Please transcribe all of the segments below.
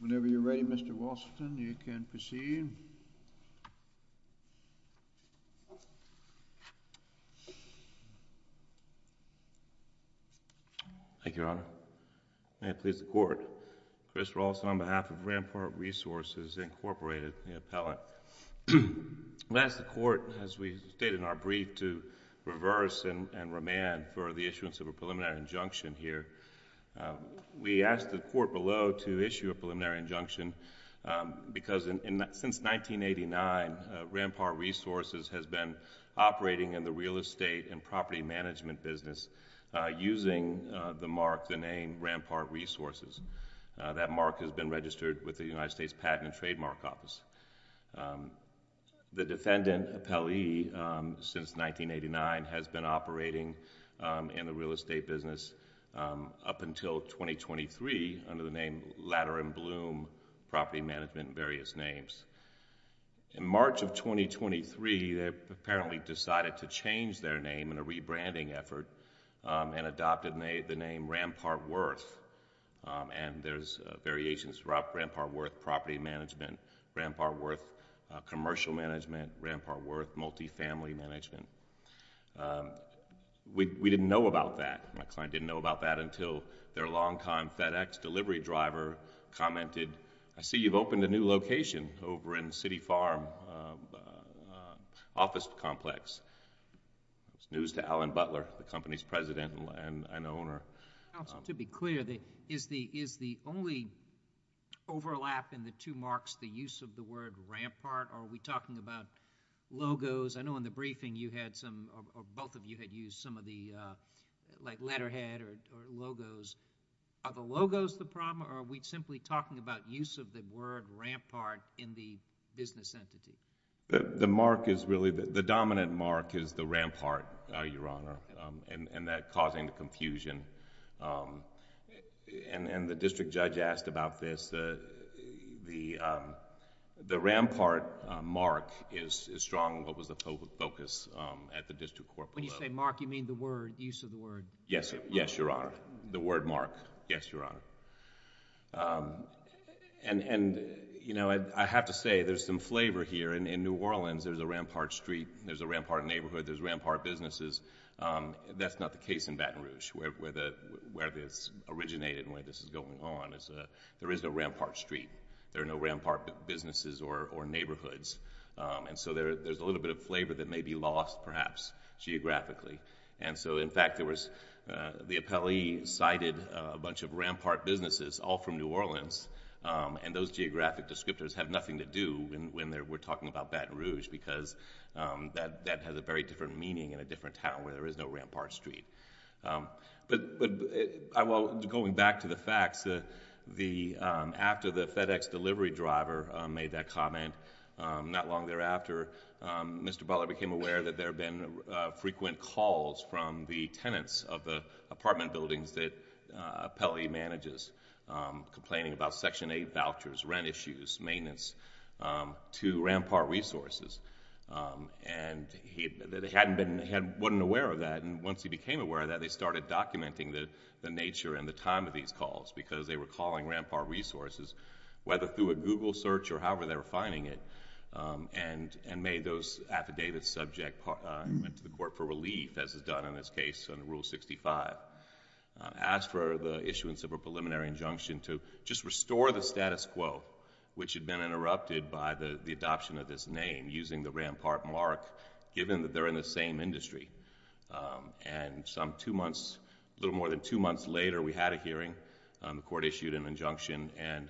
Whenever you're ready, Mr. Walsh, then you can proceed. Thank you, Your Honor. May it please the Court, Chris Walsh on behalf of Rampart Resources, Inc., the appellant. We ask the Court, as we stated in our brief, to reverse and remand for the issuance of a preliminary injunction here. We ask the Court below to issue a preliminary injunction because since 1989, Rampart Resources has been operating in the real estate and property management business using the mark, the name, Rampart Resources. That mark has been registered with the United States Patent and Trademark Office. The defendant, appellee, since 1989, has been operating in the real estate business up until 2023 under the name Latter and Bloom Property Management, various names. In March of 2023, they apparently decided to change their name in a rebranding effort and adopted the name Rampart Worth. And there's variations throughout Rampart Worth Property Management, Rampart Worth Commercial Management, Rampart Worth Multifamily Management. We didn't know about that. My client didn't know about that until their long-time FedEx delivery driver commented, I see you've opened a new location over in City Farm Office Complex. It's news to Alan Butler, the company's president and owner. To be clear, is the only overlap in the two marks the use of the word Rampart or are we talking about logos? I know in the briefing you had some, or both of you had used some of the, like letterhead or logos. Are the logos the problem or are we simply talking about use of the word Rampart in the business entity? The mark is really, the dominant mark is the Rampart, Your Honor, and that causing confusion. And the district judge asked about this. The Rampart mark is strong, what was the focus at the district court level. When you say mark, you mean the word, use of the word? Yes, Your Honor. The word mark. Yes, Your Honor. And, you know, I have to say there's some flavor here. In New Orleans, there's a Rampart street, there's a Rampart neighborhood, there's Rampart businesses. That's not the case in Baton Rouge where this originated and where this is going on. There is no Rampart street. There are no Rampart businesses or neighborhoods. And so there's a little bit of flavor that may be lost, perhaps, geographically. And so, in fact, the appellee cited a bunch of Rampart businesses, all from New Orleans, and those geographic descriptors have nothing to do when we're talking about Baton Rouge because that has a very different meaning in a different town where there is no Rampart street. But going back to the facts, after the FedEx delivery driver made that comment, not long thereafter, Mr. Butler became aware that there had been frequent calls from the tenants of the apartment buildings that the appellee manages, complaining about Section 8 vouchers, rent issues, maintenance, to Rampart Resources. And he hadn't been, he wasn't aware of that. And once he became aware of that, they started documenting the nature and the time of these calls because they were calling Rampart Resources, whether through a Google search or however they were finding it, and made those affidavits subject and went to the court for relief, as is done in this case under Rule 65, asked for the issuance of a preliminary injunction to just restore the status quo, which had been interrupted by the adoption of this name, using the Rampart mark, given that they're in the same industry. And some two months, a little more than two months later, we had a hearing, the court issued an injunction and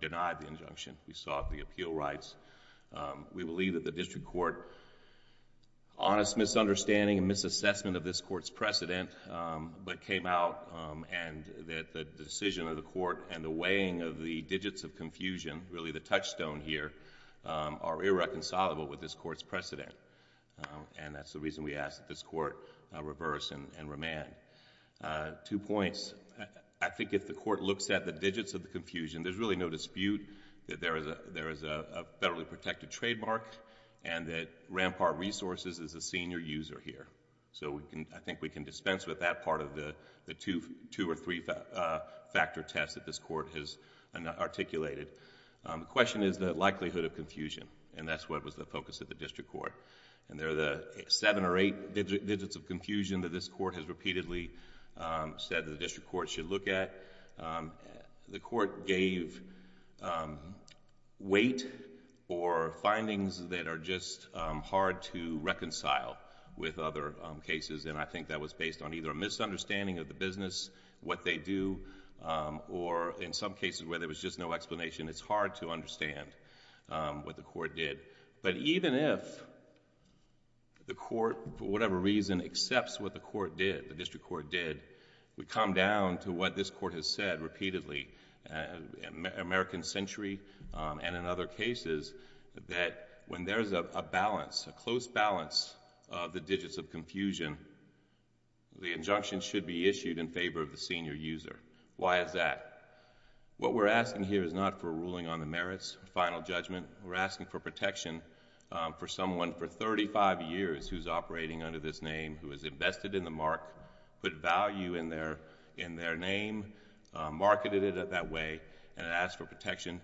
denied the injunction. We sought the appeal rights. We believe that the district court, honest misunderstanding and misassessment of this court's precedent, but came out and that the decision of the court and the weighing of the digits of confusion, really the touchstone here, are irreconcilable with this court's And that's the reason we ask that this court reverse and remand. Two points. I think if the court looks at the digits of the confusion, there's really no dispute that there is a federally protected trademark and that Rampart Resources is a senior user here. So I think we can dispense with that part of the two or three factor test that this court has articulated. The question is the likelihood of confusion, and that's what was the focus of the district court. And there are the seven or eight digits of confusion that this court has repeatedly said the district court should look at. The court gave weight or findings that are just hard to reconcile with other cases, and I think that was based on either a misunderstanding of the business, what they do, or in some cases where there was just no explanation, it's hard to understand what the court did. But even if the court, for whatever reason, accepts what the court did, the district court did, we come down to what this court has said repeatedly, American Century and in other cases, that when there's a balance, a close balance of the digits of confusion, the injunction should be issued in favor of the senior user. Why is that? What we're asking here is not for a ruling on the merits, final judgment. We're asking for protection for someone for thirty-five years who's operating under this name, who has invested in the mark, put value in their name, marketed it that way, and asked for protection.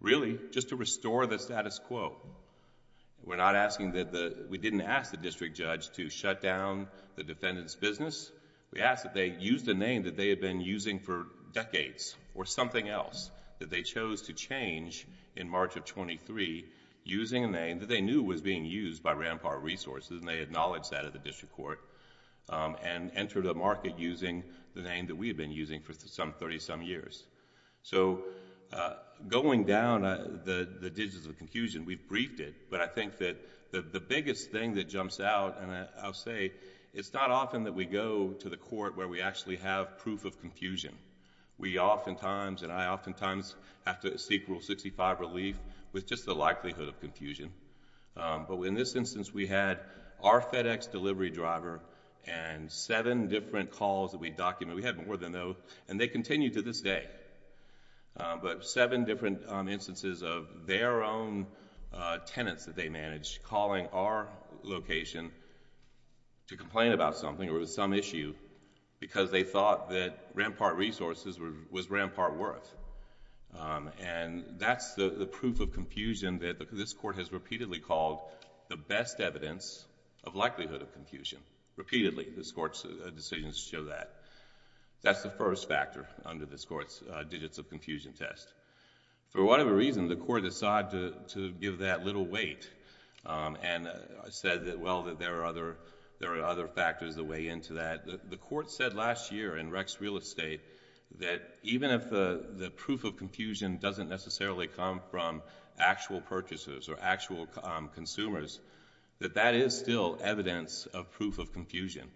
Really, just to restore the status quo, we didn't ask the district judge to shut down the defendant's business. We asked that they use the name that they had been using for decades or something else that they chose to change in March of twenty-three using a name that they knew was being used by Rampart Resources, and they acknowledged that at the district court, and entered a market using the name that we had been using for some thirty-some years. Going down the digits of confusion, we've briefed it, but I think that the biggest thing that jumps out, and I'll say, it's not often that we go to the court where we actually have proof of confusion. We oftentimes, and I oftentimes, have to seek Rule 65 relief with just the likelihood of confusion, but in this instance, we had our FedEx delivery driver and seven different calls that we documented. We had more than those, and they continue to this day, but seven different instances of their own tenants that they managed calling our location to complain about something or with some issue because they thought that Rampart Resources was Rampart Worth. That's the proof of confusion that this court has repeatedly called the best evidence of likelihood of confusion, repeatedly, this court's decisions show that. That's the first factor under this court's digits of confusion test. For whatever reason, the court decided to give that little weight and said that, well, there are other factors that weigh into that. The court said last year in Rex Real Estate that even if the proof of confusion doesn't necessarily come from actual purchasers or actual consumers, that that is still evidence of proof of confusion.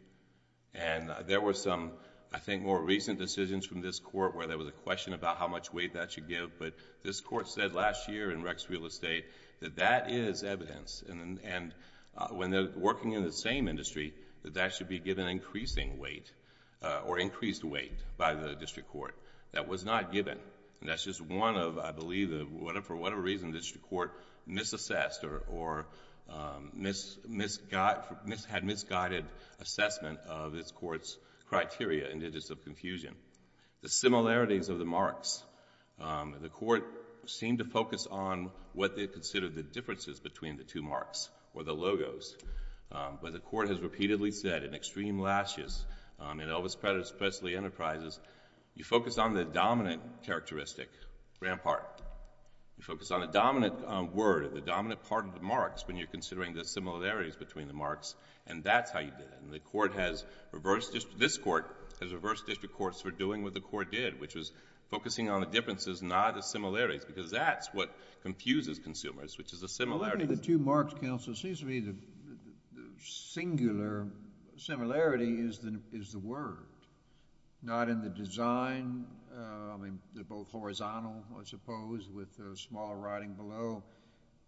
There were some, I think, more recent decisions from this court where there was a question about how much weight that should give, but this court said last year in Rex Real Estate that that is evidence. When they're working in the same industry, that that should be given increasing weight or increased weight by the district court. That was not given. That's just one of, I believe, for whatever reason the district court misassessed or had misguided assessment of this court's criteria and digits of confusion. The similarities of the marks, the court seemed to focus on what they considered the differences between the two marks or the logos, but the court has repeatedly said in Extreme Lashes and Elvis Presley Enterprises, you focus on the dominant characteristic, You focus on the dominant word, the dominant part of the marks when you're considering the similarities between the marks, and that's how you did it. This court has reversed district courts for doing what the court did, which was focusing on the differences, not the similarities, because that's what confuses consumers, which is a similarity. The two marks, counsel, seems to me the singular similarity is the word, not in the design. They're both horizontal, I suppose, with the small writing below,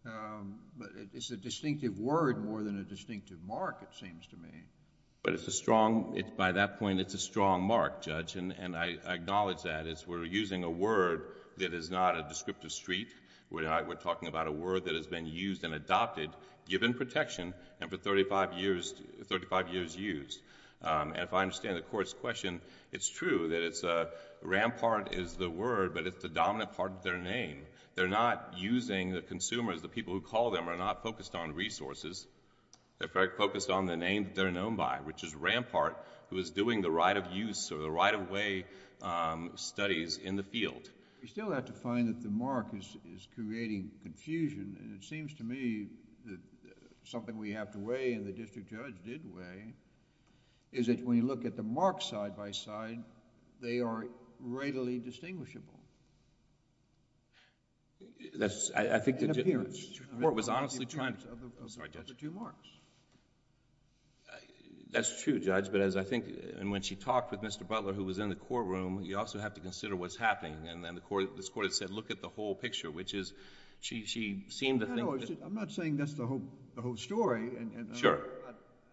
but it's a distinctive word more than a distinctive mark, it seems to me. By that point, it's a strong mark, Judge, and I acknowledge that. We're using a word that is not a descriptive street. We're talking about a word that has been used and adopted, given protection, and for 35 years used. If I understand the court's question, it's true that Rampart is the word, but it's the dominant part of their name. They're not using, the consumers, the people who call them, are not focused on resources. They're focused on the name that they're known by, which is Rampart, who is doing the right of use or the right of way studies in the field. We still have to find that the mark is creating confusion, and it seems to me that something we have to weigh, and the district judge did weigh, is that when you look at the marks side-by-side, they are readily distinguishable...... in appearance... The court was honestly trying...... of the two marks. That's true, Judge, but as I think, and when she talked with Mr. Butler, who was in the courtroom, you also have to consider what's happening, and then the court said, look at the whole picture, which is, she seemed to think... No, no, I'm not saying that's the whole story, and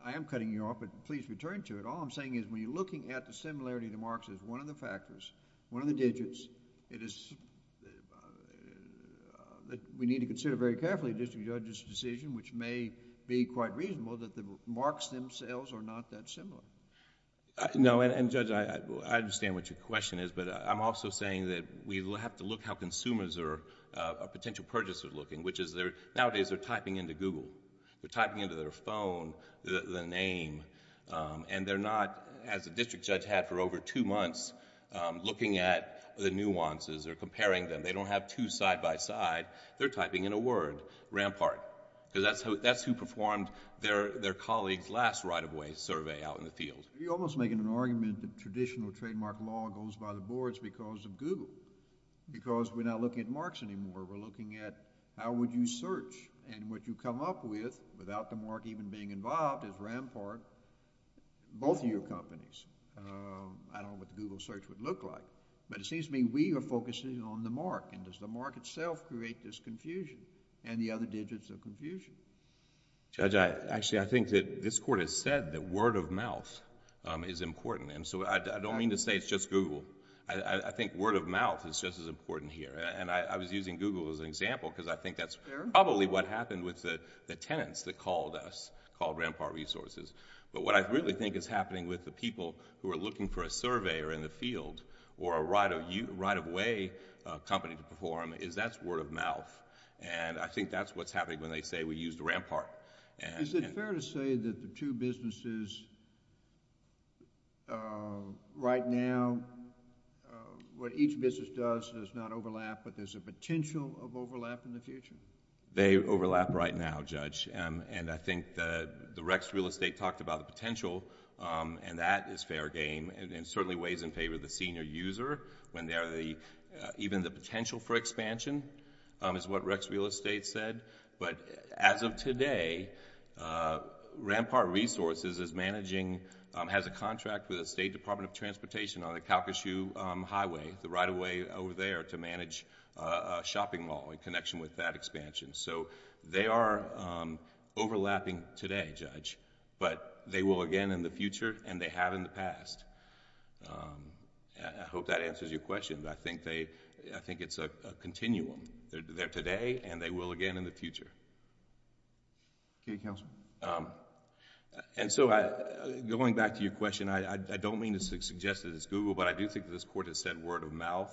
I am cutting you off, but please return to it. All I'm saying is, when you're looking at the similarity of the marks as one of the factors, one of the digits, it is... we need to consider very carefully the district judge's decision, which may be quite reasonable that the marks themselves are not that similar. No, and Judge, I understand what your question is, but I'm also saying that we have to look how consumers are potential purchasers looking, which is, nowadays, they're typing into Google. They're typing into their phone the name, and they're not, as the district judge had for over two months, looking at the nuances or comparing them. They don't have two side-by-side. They're typing in a word, Rampart, because that's who performed their colleague's last right-of-way survey out in the field. You're almost making an argument that traditional trademark law goes by the boards because of Google, because we're not looking at marks anymore. We're looking at how would you search, and what you come up with, without the mark even being involved, is Rampart, both of your companies. I don't know what the Google search would look like, but it seems to me we are focusing on the mark, and does the mark itself create this confusion, and the other digits of confusion? Judge, actually, I think that this Court has said that word of mouth is important. I don't mean to say it's just Google. I think word of mouth is just as important here. I was using Google as an example because I think that's probably what happened with the tenants that called us, called Rampart Resources. What I really think is happening with the people who are looking for a surveyor in the field, or a right-of-way company to perform, is that's word of mouth. I think that's what's happening when they say, we used Rampart. Is it fair to say that the two businesses right now, what each business does does not overlap, but there's a potential of overlap in the future? They overlap right now, Judge. I think the Rex Real Estate talked about the potential, and that is fair game, and certainly weighs in favor of the senior user, when they are the... even the potential for expansion is what Rex Real Estate said, but as of today, Rampart Resources is managing, has a contract with the State Department of Transportation on the Calcasieu Highway, the right-of-way over there, to manage a shopping mall in connection with that expansion. They are overlapping today, Judge, but they will again in the future, and they have in the past. I hope that answers your question, but I think they... I think it's a continuum. They're there today, and they will again in the future. Going back to your question, I don't mean to suggest that it's Google, but I do think that this Court has said word of mouth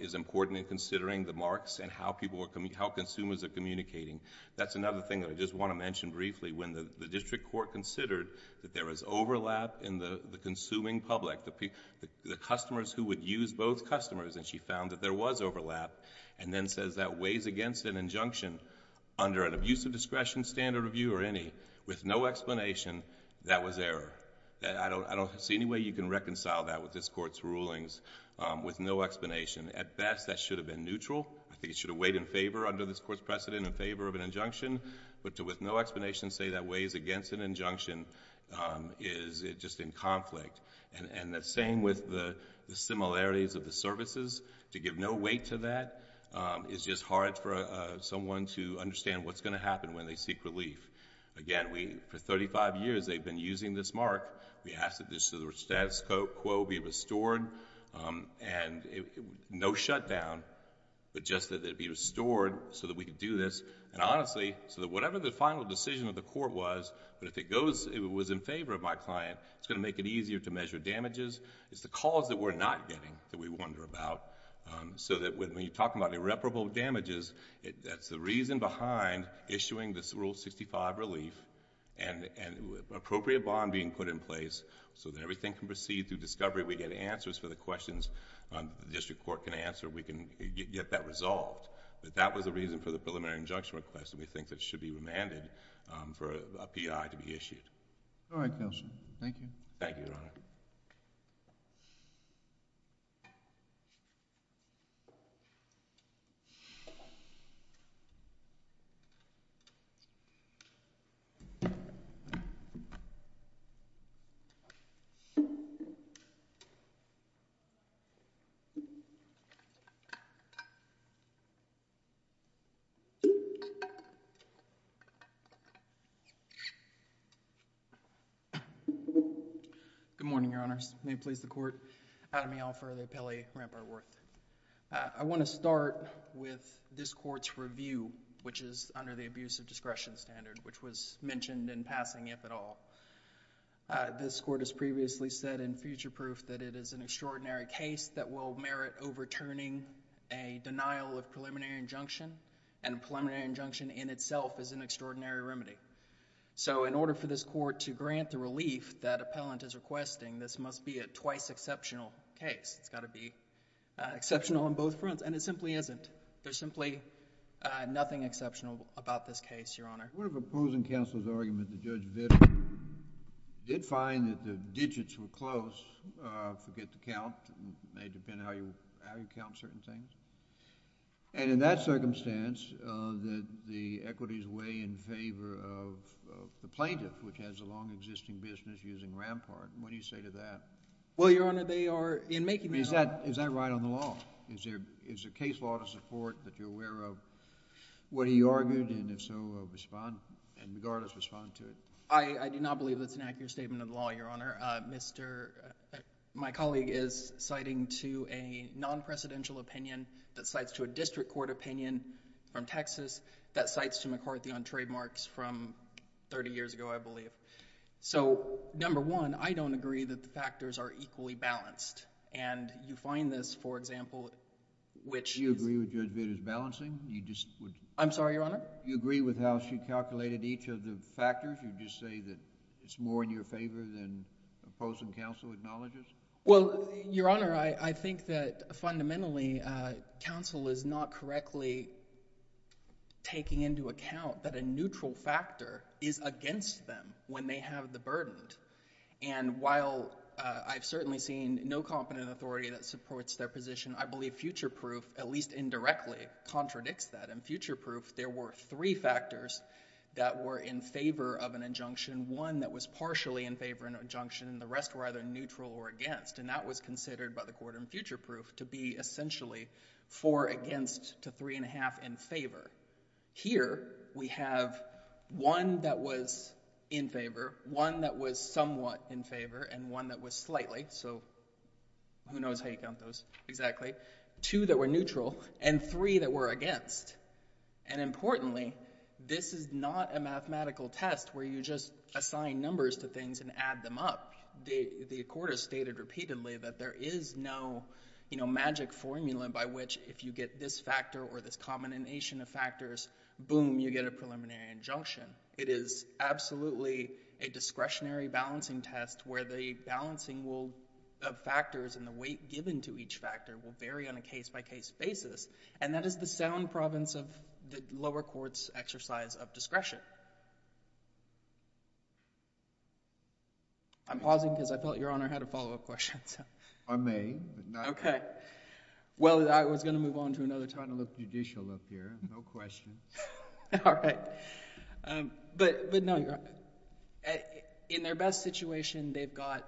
is important in considering the marks and how consumers are communicating. That's another thing that I just want to mention briefly. When the district court considered that there was overlap in the consuming public, the customers who would use both customers, and she found that there was overlap, and then says that weighs against an injunction under an abuse of discretion, standard of view, or any, with no explanation, that was error. I don't see any way you can reconcile that with this Court's rulings with no explanation. At best, that should have been neutral. I think it should have weighed in favor under this Court's precedent, in favor of an injunction, but to with no explanation say that weighs against an injunction is just in conflict. The same with the similarities of the services. To give no weight to that is just hard for someone to understand what's going to happen when they seek relief. Again, for thirty-five years, they've been using this mark. We ask that the status quo be restored, and no shutdown, but just that it be restored for thirty-five years. Honestly, so that whatever the final decision of the court was, but if it was in favor of my client, it's going to make it easier to measure damages. It's the cause that we're not getting that we wonder about. So that when you're talking about irreparable damages, that's the reason behind issuing this Rule 65 relief and appropriate bond being put in place so that everything can proceed through discovery. We get answers for the questions the district court can answer. We can get that resolved. But that was the reason for the preliminary injunction request, and we think that should be remanded for a P.I. to be issued. Good morning, Your Honors. May it please the Court. Adam Yelfer, the appellee, Rampart-Worth. I want to start with this Court's review, which is under the Abusive Discretion Standard, which was mentioned in passing, if at all. This Court has previously said in future proof that it is an extraordinary case that will merit overturning a denial of preliminary injunction, and a preliminary injunction in itself is an extraordinary remedy. So in order for this Court to grant the relief that appellant is requesting, this must be a twice-exceptional case. It's got to be exceptional on both fronts, and it simply isn't. There's simply nothing exceptional about this case, Your Honor. One of opposing counsel's arguments, Judge Vitter, did find that the digits were close. Forget the count. It may depend on how you count certain things. And in that circumstance, the equities weigh in favor of the plaintiff, which has a long existing business using Rampart. What do you say to that? Well, Your Honor, they are... I mean, is that right on the law? Is there a case law to support that you're aware of what he argued, and if so, respond, and regardless, respond to it? I do not believe that's an accurate statement of the law, Your Honor. My colleague is citing to a non-presidential opinion that cites to a district court opinion from Texas that cites to McCarthy on trademarks from 30 years ago, I believe. So number one, I don't agree that the factors are equally balanced. And you find this, for example, which... Do you agree with Judge Vitter's balancing? You just would... I'm sorry, Your Honor? Do you agree with how she calculated each of the factors, or do you just say that it's more in your favor than opposing counsel acknowledges? Well, Your Honor, I think that fundamentally, counsel is not correctly taking into account that a neutral factor is against them when they have the burden. And while I've certainly seen no competent authority that supports their position, I believe future proof, at least indirectly, contradicts that. In future proof, there were three factors that were in favor of an injunction. One that was partially in favor of an injunction, and the rest were either neutral or against. And that was considered by the court in future proof to be essentially four against to three and a half in favor. Here we have one that was in favor, one that was somewhat in favor, and one that was slightly. So who knows how you count those exactly. Two that were neutral, and three that were against. And importantly, this is not a mathematical test where you just assign numbers to things and add them up. The court has stated repeatedly that there is no magic formula by which if you get this factor or this combination of factors, boom, you get a preliminary injunction. It is absolutely a discretionary balancing test where the balancing of factors and the weight given to each factor will vary on a case-by-case basis. And that is the sound province of the lower court's exercise of discretion. I'm pausing because I thought Your Honor had a follow-up question. I may, but not now. OK. Well, I was going to move on to another topic. I'm trying to look judicial up here. No questions. All right. But no, Your Honor. In their best situation, they've got,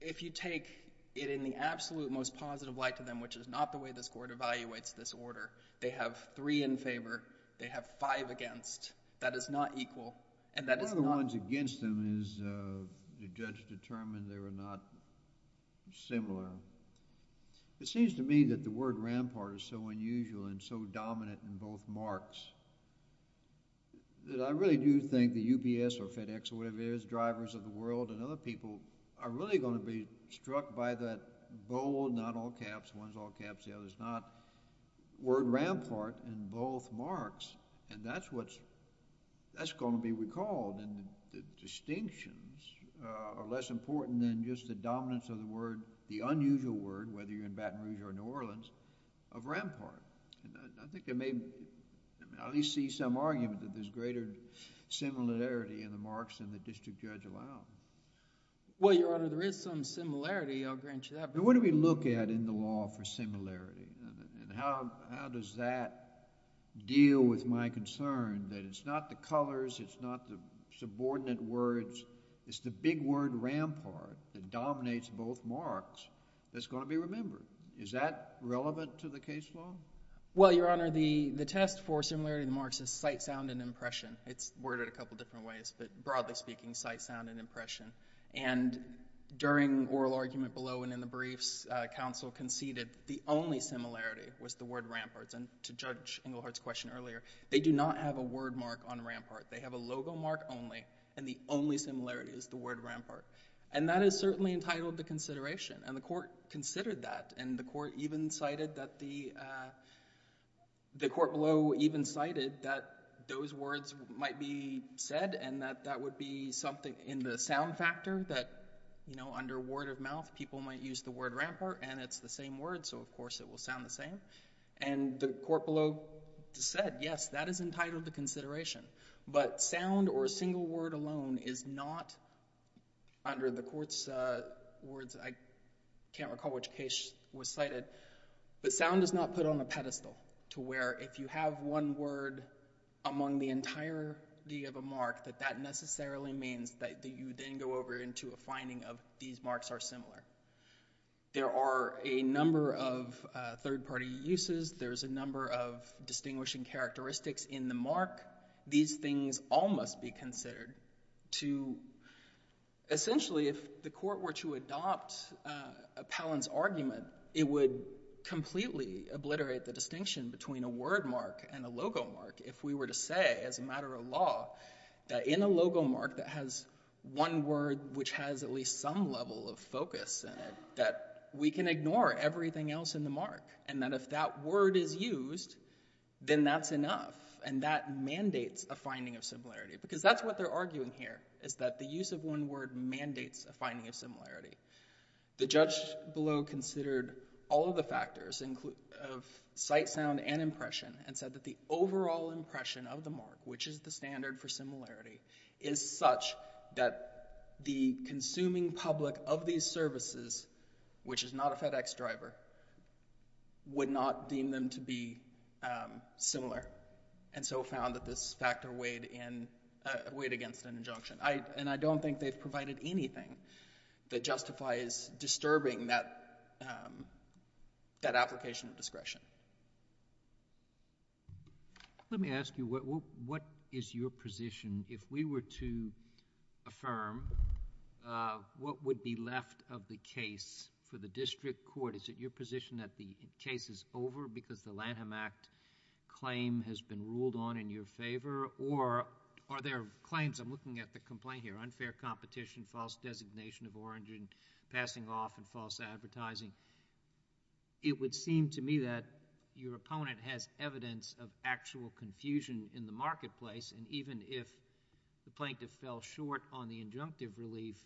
if you take it in the absolute most positive light to them, which is not the way this court evaluates this order, they have three in They have five against. That is not equal. And that is not— One of the ones against them is the judge determined they were not similar. It seems to me that the word rampart is so unusual and so dominant in both marks that I really do think the UPS or FedEx or whatever it is, drivers of the world and other people are really going to be struck by that bold, not all caps, one's all caps, the other's not, word rampart in both marks. And that's what's—that's going to be recalled in the distinctions are less important than just the dominance of the word, the unusual word, whether you're in Baton Rouge or New Orleans, of rampart. And I think they may at least see some argument that there's greater similarity in the marks than the district judge allowed. Well, Your Honor, there is some similarity. I'll grant you that. But what do we look at in the law for similarity and how does that deal with my concern that it's not the colors, it's not the subordinate words, it's the big word rampart that dominates both marks that's going to be remembered? Is that relevant to the case law? Well, Your Honor, the test for similarity in the marks is sight, sound, and impression. It's worded a couple different ways, but broadly speaking, sight, sound, and impression. And during oral argument below and in the briefs, counsel conceded the only similarity was the word ramparts. And to judge Englehart's question earlier, they do not have a word mark on rampart. They have a logo mark only. And the only similarity is the word rampart. And that is certainly entitled to consideration, and the court considered that, and the court below even cited that those words might be said, and that that would be something in the sound factor that, you know, under word of mouth, people might use the word rampart, and it's the same word, so of course it will sound the same. And the court below said, yes, that is entitled to consideration. But sound or a single word alone is not under the court's words, I can't recall which case which was cited, but sound is not put on a pedestal to where if you have one word among the entirety of a mark, that that necessarily means that you then go over into a finding of these marks are similar. There are a number of third-party uses. There's a number of distinguishing characteristics in the mark. These things all must be considered to, essentially, if the court were to adopt Palin's argument, it would completely obliterate the distinction between a word mark and a logo mark if we were to say, as a matter of law, that in a logo mark that has one word which has at least some level of focus in it, that we can ignore everything else in the mark, and that if that word is used, then that's enough, and that mandates a finding of similarity. Because that's what they're arguing here, is that the use of one word mandates a finding of similarity. The judge below considered all of the factors of sight, sound, and impression, and said that the overall impression of the mark, which is the standard for similarity, is such that the consuming public of these services, which is not a FedEx driver, would not deem them to be similar, and so found that this factor weighed against an injunction. And I don't think they've provided anything that justifies disturbing that application of discretion. Let me ask you, what is your position, if we were to affirm, what would be left of the case for the district court? Is it your position that the case is over because the Lanham Act claim has been ruled on in your favor, or are there claims, I'm looking at the complaint here, unfair competition, false designation of orange in passing off and false advertising? It would seem to me that your opponent has evidence of actual confusion in the marketplace, and even if the plaintiff fell short on the injunctive relief,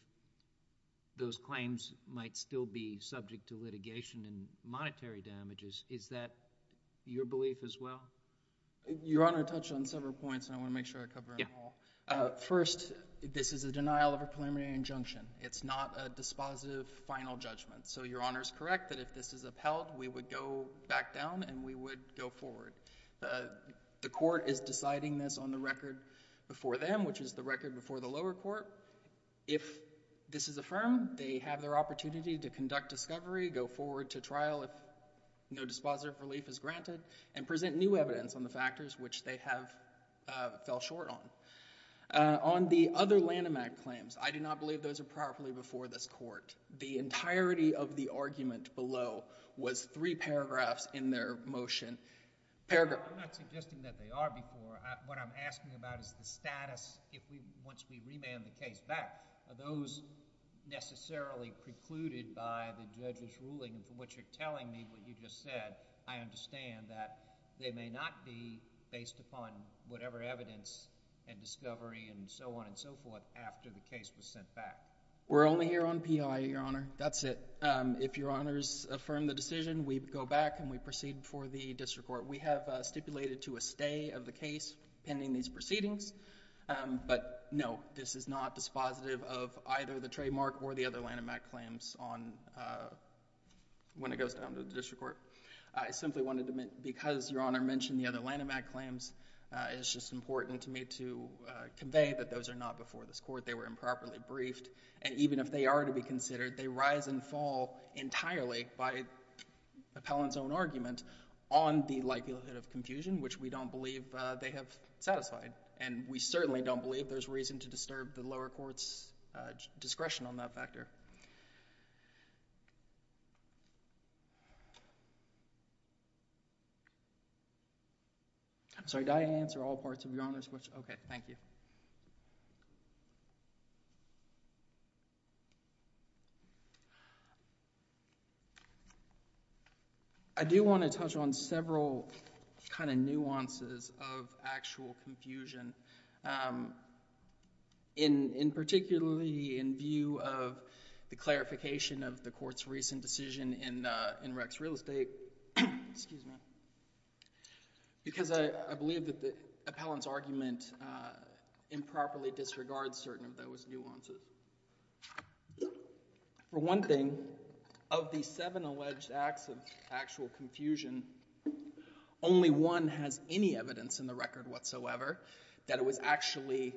those claims might still be subject to litigation and monetary damages. Is that your belief as well? Your Honor touched on several points, and I want to make sure I cover them all. First, this is a denial of a preliminary injunction. It's not a dispositive final judgment. So your Honor is correct that if this is upheld, we would go back down and we would go forward. The court is deciding this on the record before them, which is the record before the lower court. If this is affirmed, they have their opportunity to conduct discovery, go forward to trial if no dispositive relief is granted, and present new evidence on the factors which they have fell short on. On the other Lanham Act claims, I do not believe those are properly before this court. The entirety of the argument below was three paragraphs in their motion. Paragraph... I'm not suggesting that they are before. What I'm asking about is the status once we remand the case back. Are those necessarily precluded by the judge's ruling, from what you're telling me, what you just said? I understand that they may not be based upon whatever evidence and discovery and so on and so forth after the case was sent back. We're only here on P.I., Your Honor. That's it. If Your Honor's affirmed the decision, we go back and we proceed before the district court. We have stipulated to a stay of the case pending these proceedings, but no, this is not dispositive of either the trademark or the other Lanham Act claims on... when it goes down to the district court. I simply wanted to... because Your Honor mentioned the other Lanham Act claims, it's just important to me to convey that those are not before this court. They were improperly briefed, and even if they are to be considered, they rise and fall entirely by the appellant's own argument on the likelihood of confusion, which we don't believe they have satisfied. We certainly don't believe there's reason to disturb the lower court's discretion on that factor. I'm sorry. Do I answer all parts of Your Honor's question? Okay. Thank you. I do want to touch on several kind of nuances of actual confusion, particularly in view of the clarification of the court's recent decision in Rex Real Estate... excuse me, because I believe that the appellant's argument improperly disregards certain of those nuances. For one thing, of the seven alleged acts of actual confusion, only one has any evidence in the record whatsoever that it was actually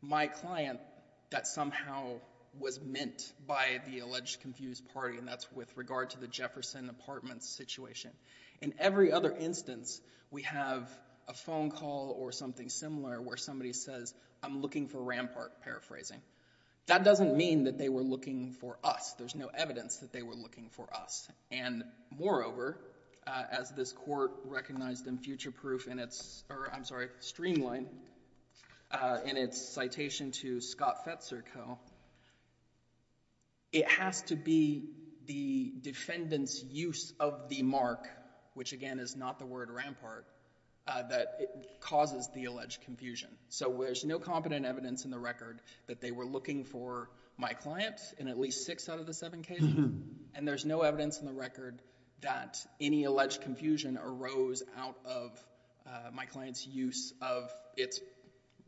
my client that somehow was meant by the alleged confused party, and that's with regard to the Jefferson Apartments situation. In every other instance, we have a phone call or something similar where somebody says, I'm looking for Rampart, paraphrasing. That doesn't mean that they were looking for us. There's no evidence that they were looking for us, and moreover, as this court recognized in future proof in its... or I'm sorry, Streamline, in its citation to Scott Fetzer Co., it has to be the defendant's use of the mark, which again is not the word Rampart, that causes the alleged confusion. So there's no competent evidence in the record that they were looking for my client in at least six out of the seven cases, and there's no evidence in the record that any alleged confusion arose out of my client's use of its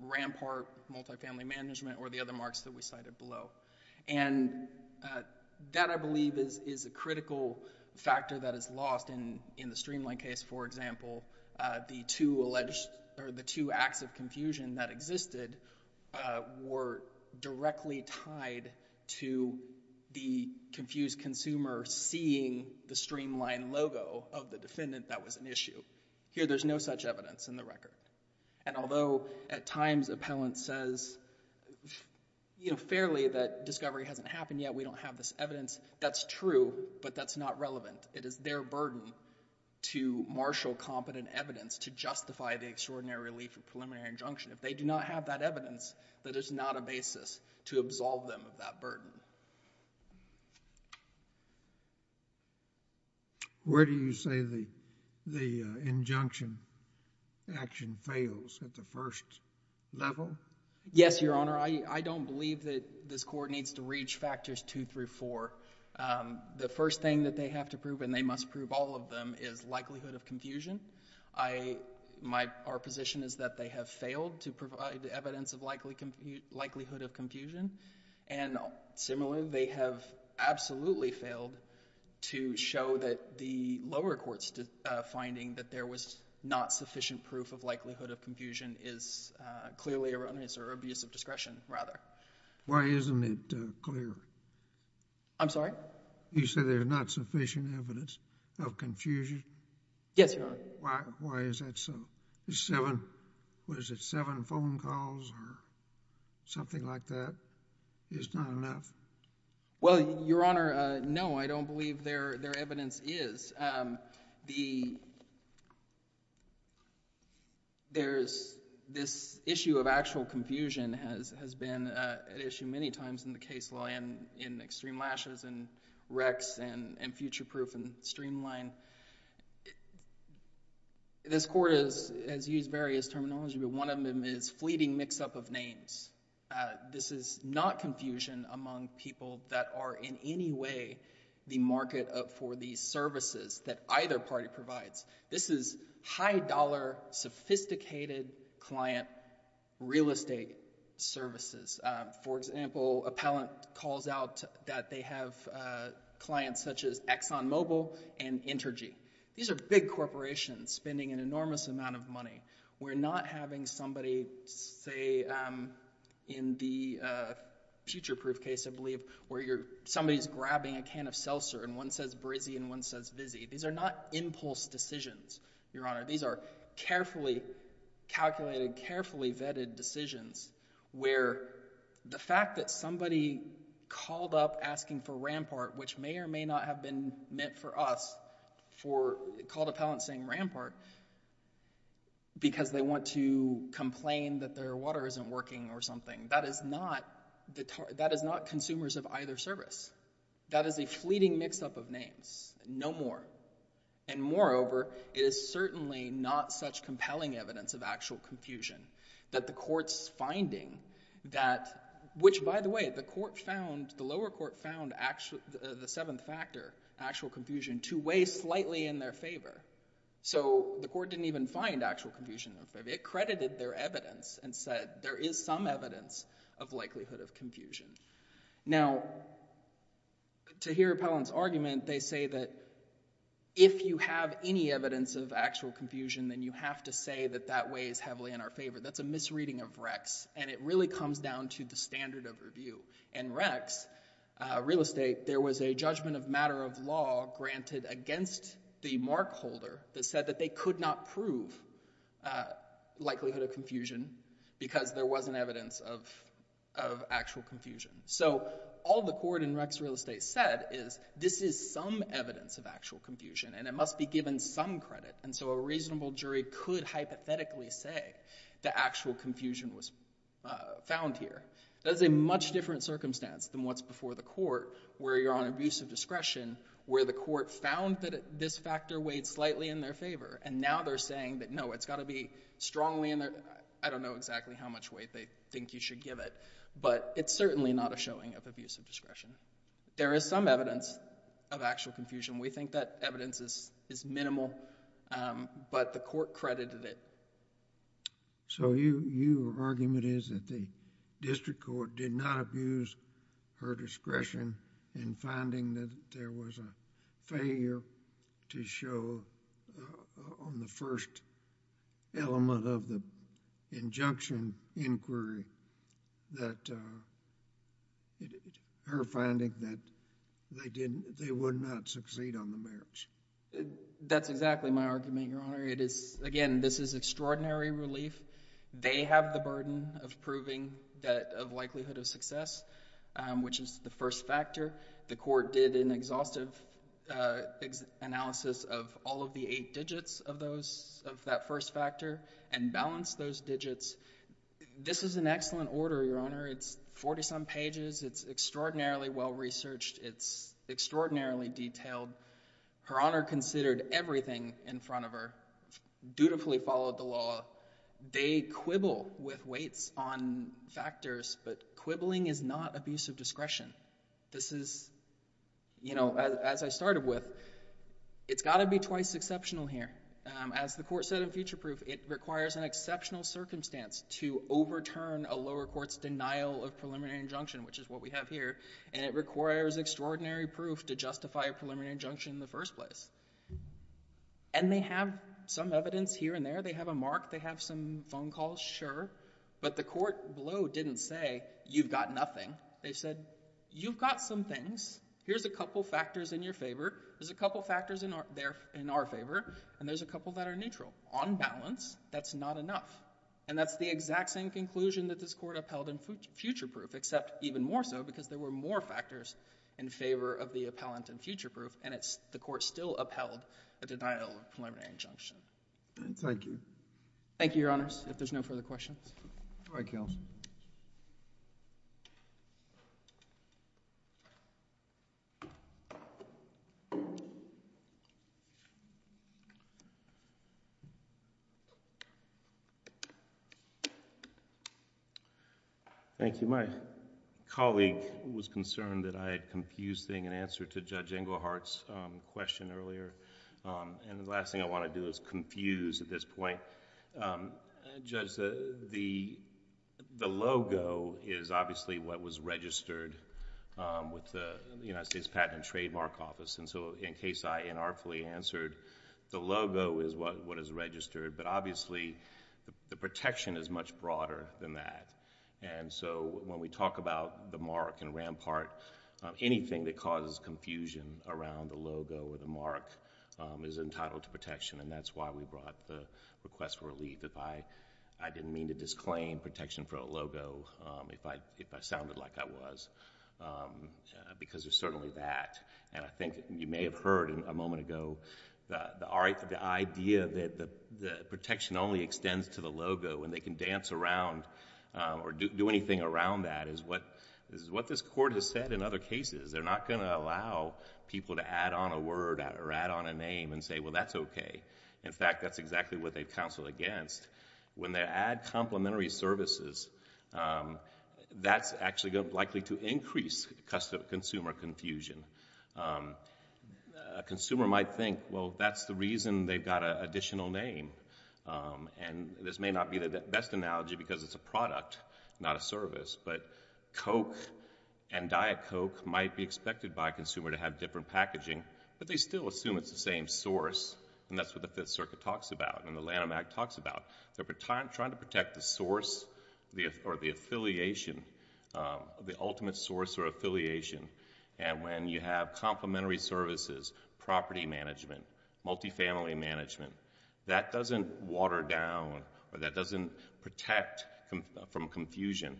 Rampart multifamily management or the marks that we cited below. And that, I believe, is a critical factor that is lost in the Streamline case. For example, the two alleged... or the two acts of confusion that existed were directly tied to the confused consumer seeing the Streamline logo of the defendant that was an issue. Here there's no such evidence in the record. And although at times appellant says, you know, fairly that discovery hasn't happened yet, we don't have this evidence, that's true, but that's not relevant. It is their burden to marshal competent evidence to justify the extraordinary relief of preliminary injunction. If they do not have that evidence, that is not a basis to absolve them of that burden. Where do you say the injunction action fails, at the first level? Yes, Your Honor, I don't believe that this Court needs to reach factors two through four. The first thing that they have to prove, and they must prove all of them, is likelihood of confusion. Our position is that they have failed to provide evidence of likelihood of confusion. And similarly, they have absolutely failed to show that the lower court's finding that there was not sufficient proof of likelihood of confusion is clearly erroneous or abuse of discretion, rather. Why isn't it clear? I'm sorry? You said there's not sufficient evidence of confusion? Yes, Your Honor. Why is that so? Seven... was it seven phone calls or something like that? Well, Your Honor, no, I don't believe their evidence is. This issue of actual confusion has been an issue many times in the case law and in extreme lashes and recs and future proof and streamline. This Court has used various terminology, but one of them is fleeting mix-up of names. This is not confusion among people that are in any way the market for these services that either party provides. This is high-dollar, sophisticated client real estate services. For example, a pallant calls out that they have clients such as ExxonMobil and Intergy. These are big corporations spending an enormous amount of money. We're not having somebody, say, in the future proof case, I believe, where somebody's grabbing a can of seltzer and one says Brizzy and one says Vizzy. These are not impulse decisions, Your Honor. These are carefully calculated, carefully vetted decisions where the fact that somebody called up asking for Rampart, which may or may not have been meant for us, for... called because they want to complain that their water isn't working or something. That is not consumers of either service. That is a fleeting mix-up of names. No more. Moreover, it is certainly not such compelling evidence of actual confusion that the Court's finding that... which, by the way, the lower court found the seventh factor, actual confusion, to weigh slightly in their favor. So the Court didn't even find actual confusion in their favor. It credited their evidence and said there is some evidence of likelihood of confusion. Now, to hear Appellant's argument, they say that if you have any evidence of actual confusion then you have to say that that weighs heavily in our favor. That's a misreading of Rex and it really comes down to the standard of review. In Rex, real estate, there was a judgment of matter of law granted against the markholder that said that they could not prove likelihood of confusion because there wasn't evidence of actual confusion. So all the Court in Rex real estate said is this is some evidence of actual confusion and it must be given some credit. And so a reasonable jury could hypothetically say that actual confusion was found here. That is a much different circumstance than what's before the Court where you're on abusive discretion where the Court found that this factor weighed slightly in their favor and now they're saying that no, it's got to be strongly in their... I don't know exactly how much weight they think you should give it, but it's certainly not a showing of abusive discretion. There is some evidence of actual confusion. We think that evidence is minimal, but the Court credited it. So your argument is that the district court did not abuse her discretion in finding that there was a failure to show on the first element of the injunction inquiry that... her finding that they would not succeed on the merits? That's exactly my argument, Your Honor. Again, this is extraordinary relief. They have the burden of proving that likelihood of success, which is the first factor. The Court did an exhaustive analysis of all of the eight digits of that first factor and balanced those digits. This is an excellent order, Your Honor. It's forty-some pages. It's extraordinarily well-researched. It's extraordinarily detailed. Her Honor considered everything in front of her, dutifully followed the law. They quibble with weights on factors, but quibbling is not abusive discretion. This is, you know, as I started with, it's got to be twice exceptional here. As the Court said in future proof, it requires an exceptional circumstance to overturn a lower court's denial of preliminary injunction, which is what we have here, and it requires extraordinary proof to justify a preliminary injunction in the first place. And they have some evidence here and there. They have a mark. They have some phone calls, sure, but the Court below didn't say, you've got nothing. They said, you've got some things. Here's a couple factors in your favor, there's a couple factors in our favor, and there's a couple that are neutral. On balance, that's not enough, and that's the exact same conclusion that this Court upheld in future proof, except even more so because there were more factors in favor of the appellant in future proof, and the Court still upheld a denial of preliminary injunction. Thank you. Thank you, Your Honors. If there's no further questions. All right, counsel. Thank you. My colleague was concerned that I had confused thing in answer to Judge Englehart's question earlier, and the last thing I want to do is confuse at this point. Judge, the logo is obviously what was registered with the United States Patent and Trademark Office, and so in case I inartfully answered, the logo is what is registered, but obviously the protection is much broader than that. And so, when we talk about the mark and Rampart, anything that causes confusion around the logo or the mark is entitled to protection, and that's why we brought up the request for relief. I didn't mean to disclaim protection for a logo if I sounded like I was, because there's certainly that. And I think you may have heard a moment ago, the idea that the protection only extends to the logo and they can dance around or do anything around that is what this Court has said in other cases. They're not going to allow people to add on a word or add on a name and say, well, that's okay. In fact, that's exactly what they counseled against. When they add complementary services, that's actually likely to increase consumer confusion. A consumer might think, well, that's the reason they've got an additional name, and this may not be the best analogy because it's a product, not a service, but Coke and Diet Coke might be expected by a consumer to have different packaging, but they still assume it's the same source, and that's what the Fifth Circuit talks about and the Lanham Act talks about. They're trying to protect the source or the affiliation, the ultimate source or affiliation. And when you have complementary services, property management, multifamily management, that doesn't water down or that doesn't protect from confusion.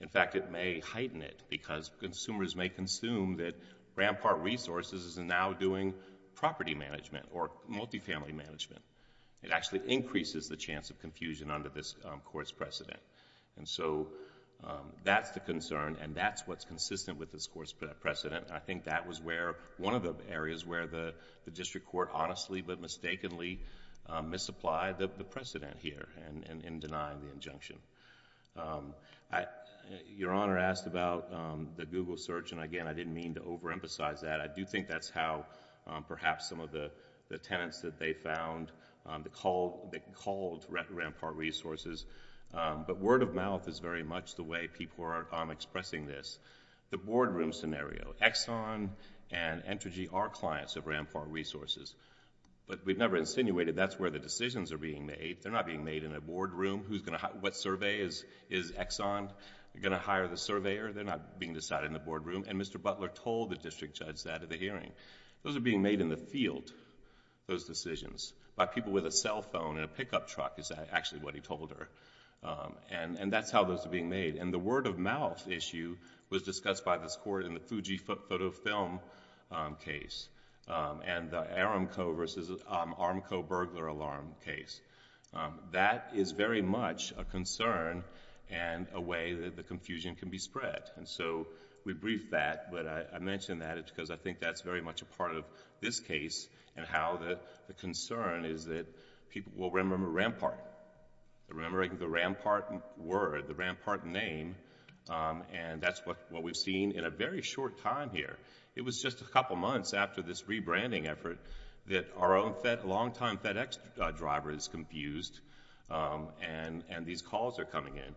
In fact, it may heighten it because consumers may consume that Grand Park Resources is now doing property management or multifamily management. It actually increases the chance of confusion under this Court's precedent. So, that's the concern and that's what's consistent with this Court's precedent. I think that was one of the areas where the district court honestly but mistakenly misapplied the precedent here in denying the injunction. Your Honor asked about the Google search, and again, I didn't mean to overemphasize that. I do think that's how perhaps some of the tenants that they found, they called Grand Park Resources, but word of mouth is very much the way people are expressing this. The boardroom scenario, Exxon and Entergy are clients of Grand Park Resources, but we've never insinuated that's where the decisions are being made. They're not being made in a boardroom. What survey is Exxon going to hire the surveyor? They're not being decided in the boardroom, and Mr. Butler told the district judge that at the hearing. Those are being made in the field, those decisions, by people with a cell phone and a pickup truck is actually what he told her, and that's how those are being made. The word of mouth issue was discussed by this Court in the Fuji Photo Film case and the Aramco versus Aramco burglar alarm case. That is very much a concern and a way that the confusion can be spread. We briefed that, but I mention that because I think that's very much a part of this case and how the concern is that people will remember Rampart, remembering the Rampart word, the Rampart name, and that's what we've seen in a very short time here. It was just a couple of months after this rebranding effort that our own long-time FedEx driver is confused and these calls are coming in.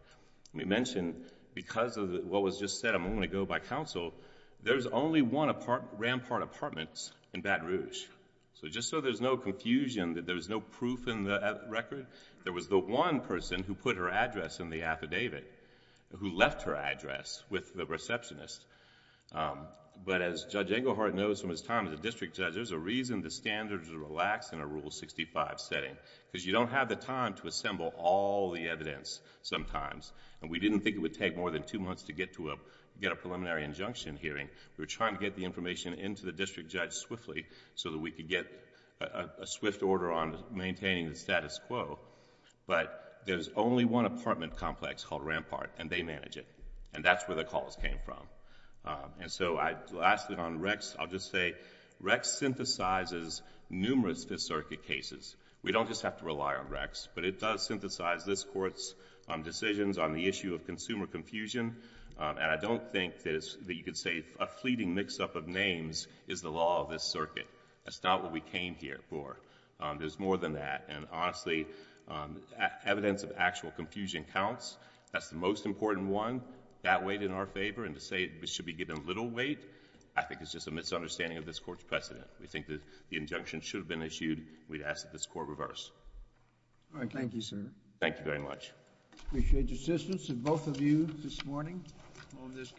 We mentioned because of what was just said a moment ago by counsel, there's only one Rampart apartment in Baton Rouge. Just so there's no confusion, that there's no proof in the record, there was the one person who put her address in the affidavit, who left her address with the receptionist, but as Judge Englehart knows from his time as a district judge, there's a reason the standards are relaxed in a Rule 65 setting because you don't have the time to assemble all the evidence sometimes. We didn't think it would take more than two months to get a preliminary injunction hearing. We're trying to get the information into the district judge swiftly so that we could get a swift order on maintaining the status quo, but there's only one apartment complex called Rampart and they manage it and that's where the calls came from. Lastly on Rex, I'll just say Rex synthesizes numerous Fifth Circuit cases. We don't just have to rely on Rex, but it does synthesize this Court's decisions on the issue of consumer confusion and I don't think that you could say a fleeting mix-up of names is the law of this circuit. That's not what we came here for. There's more than that and honestly, evidence of actual confusion counts. That's the most important one. That weighed in our favor and to say it should be given little weight, I think it's just a misunderstanding of this Court's precedent. We think that the injunction should have been issued, we'd ask that this Court reverse. All right. Thank you, sir. Thank you very much. I appreciate the assistance of both of you this morning on this case.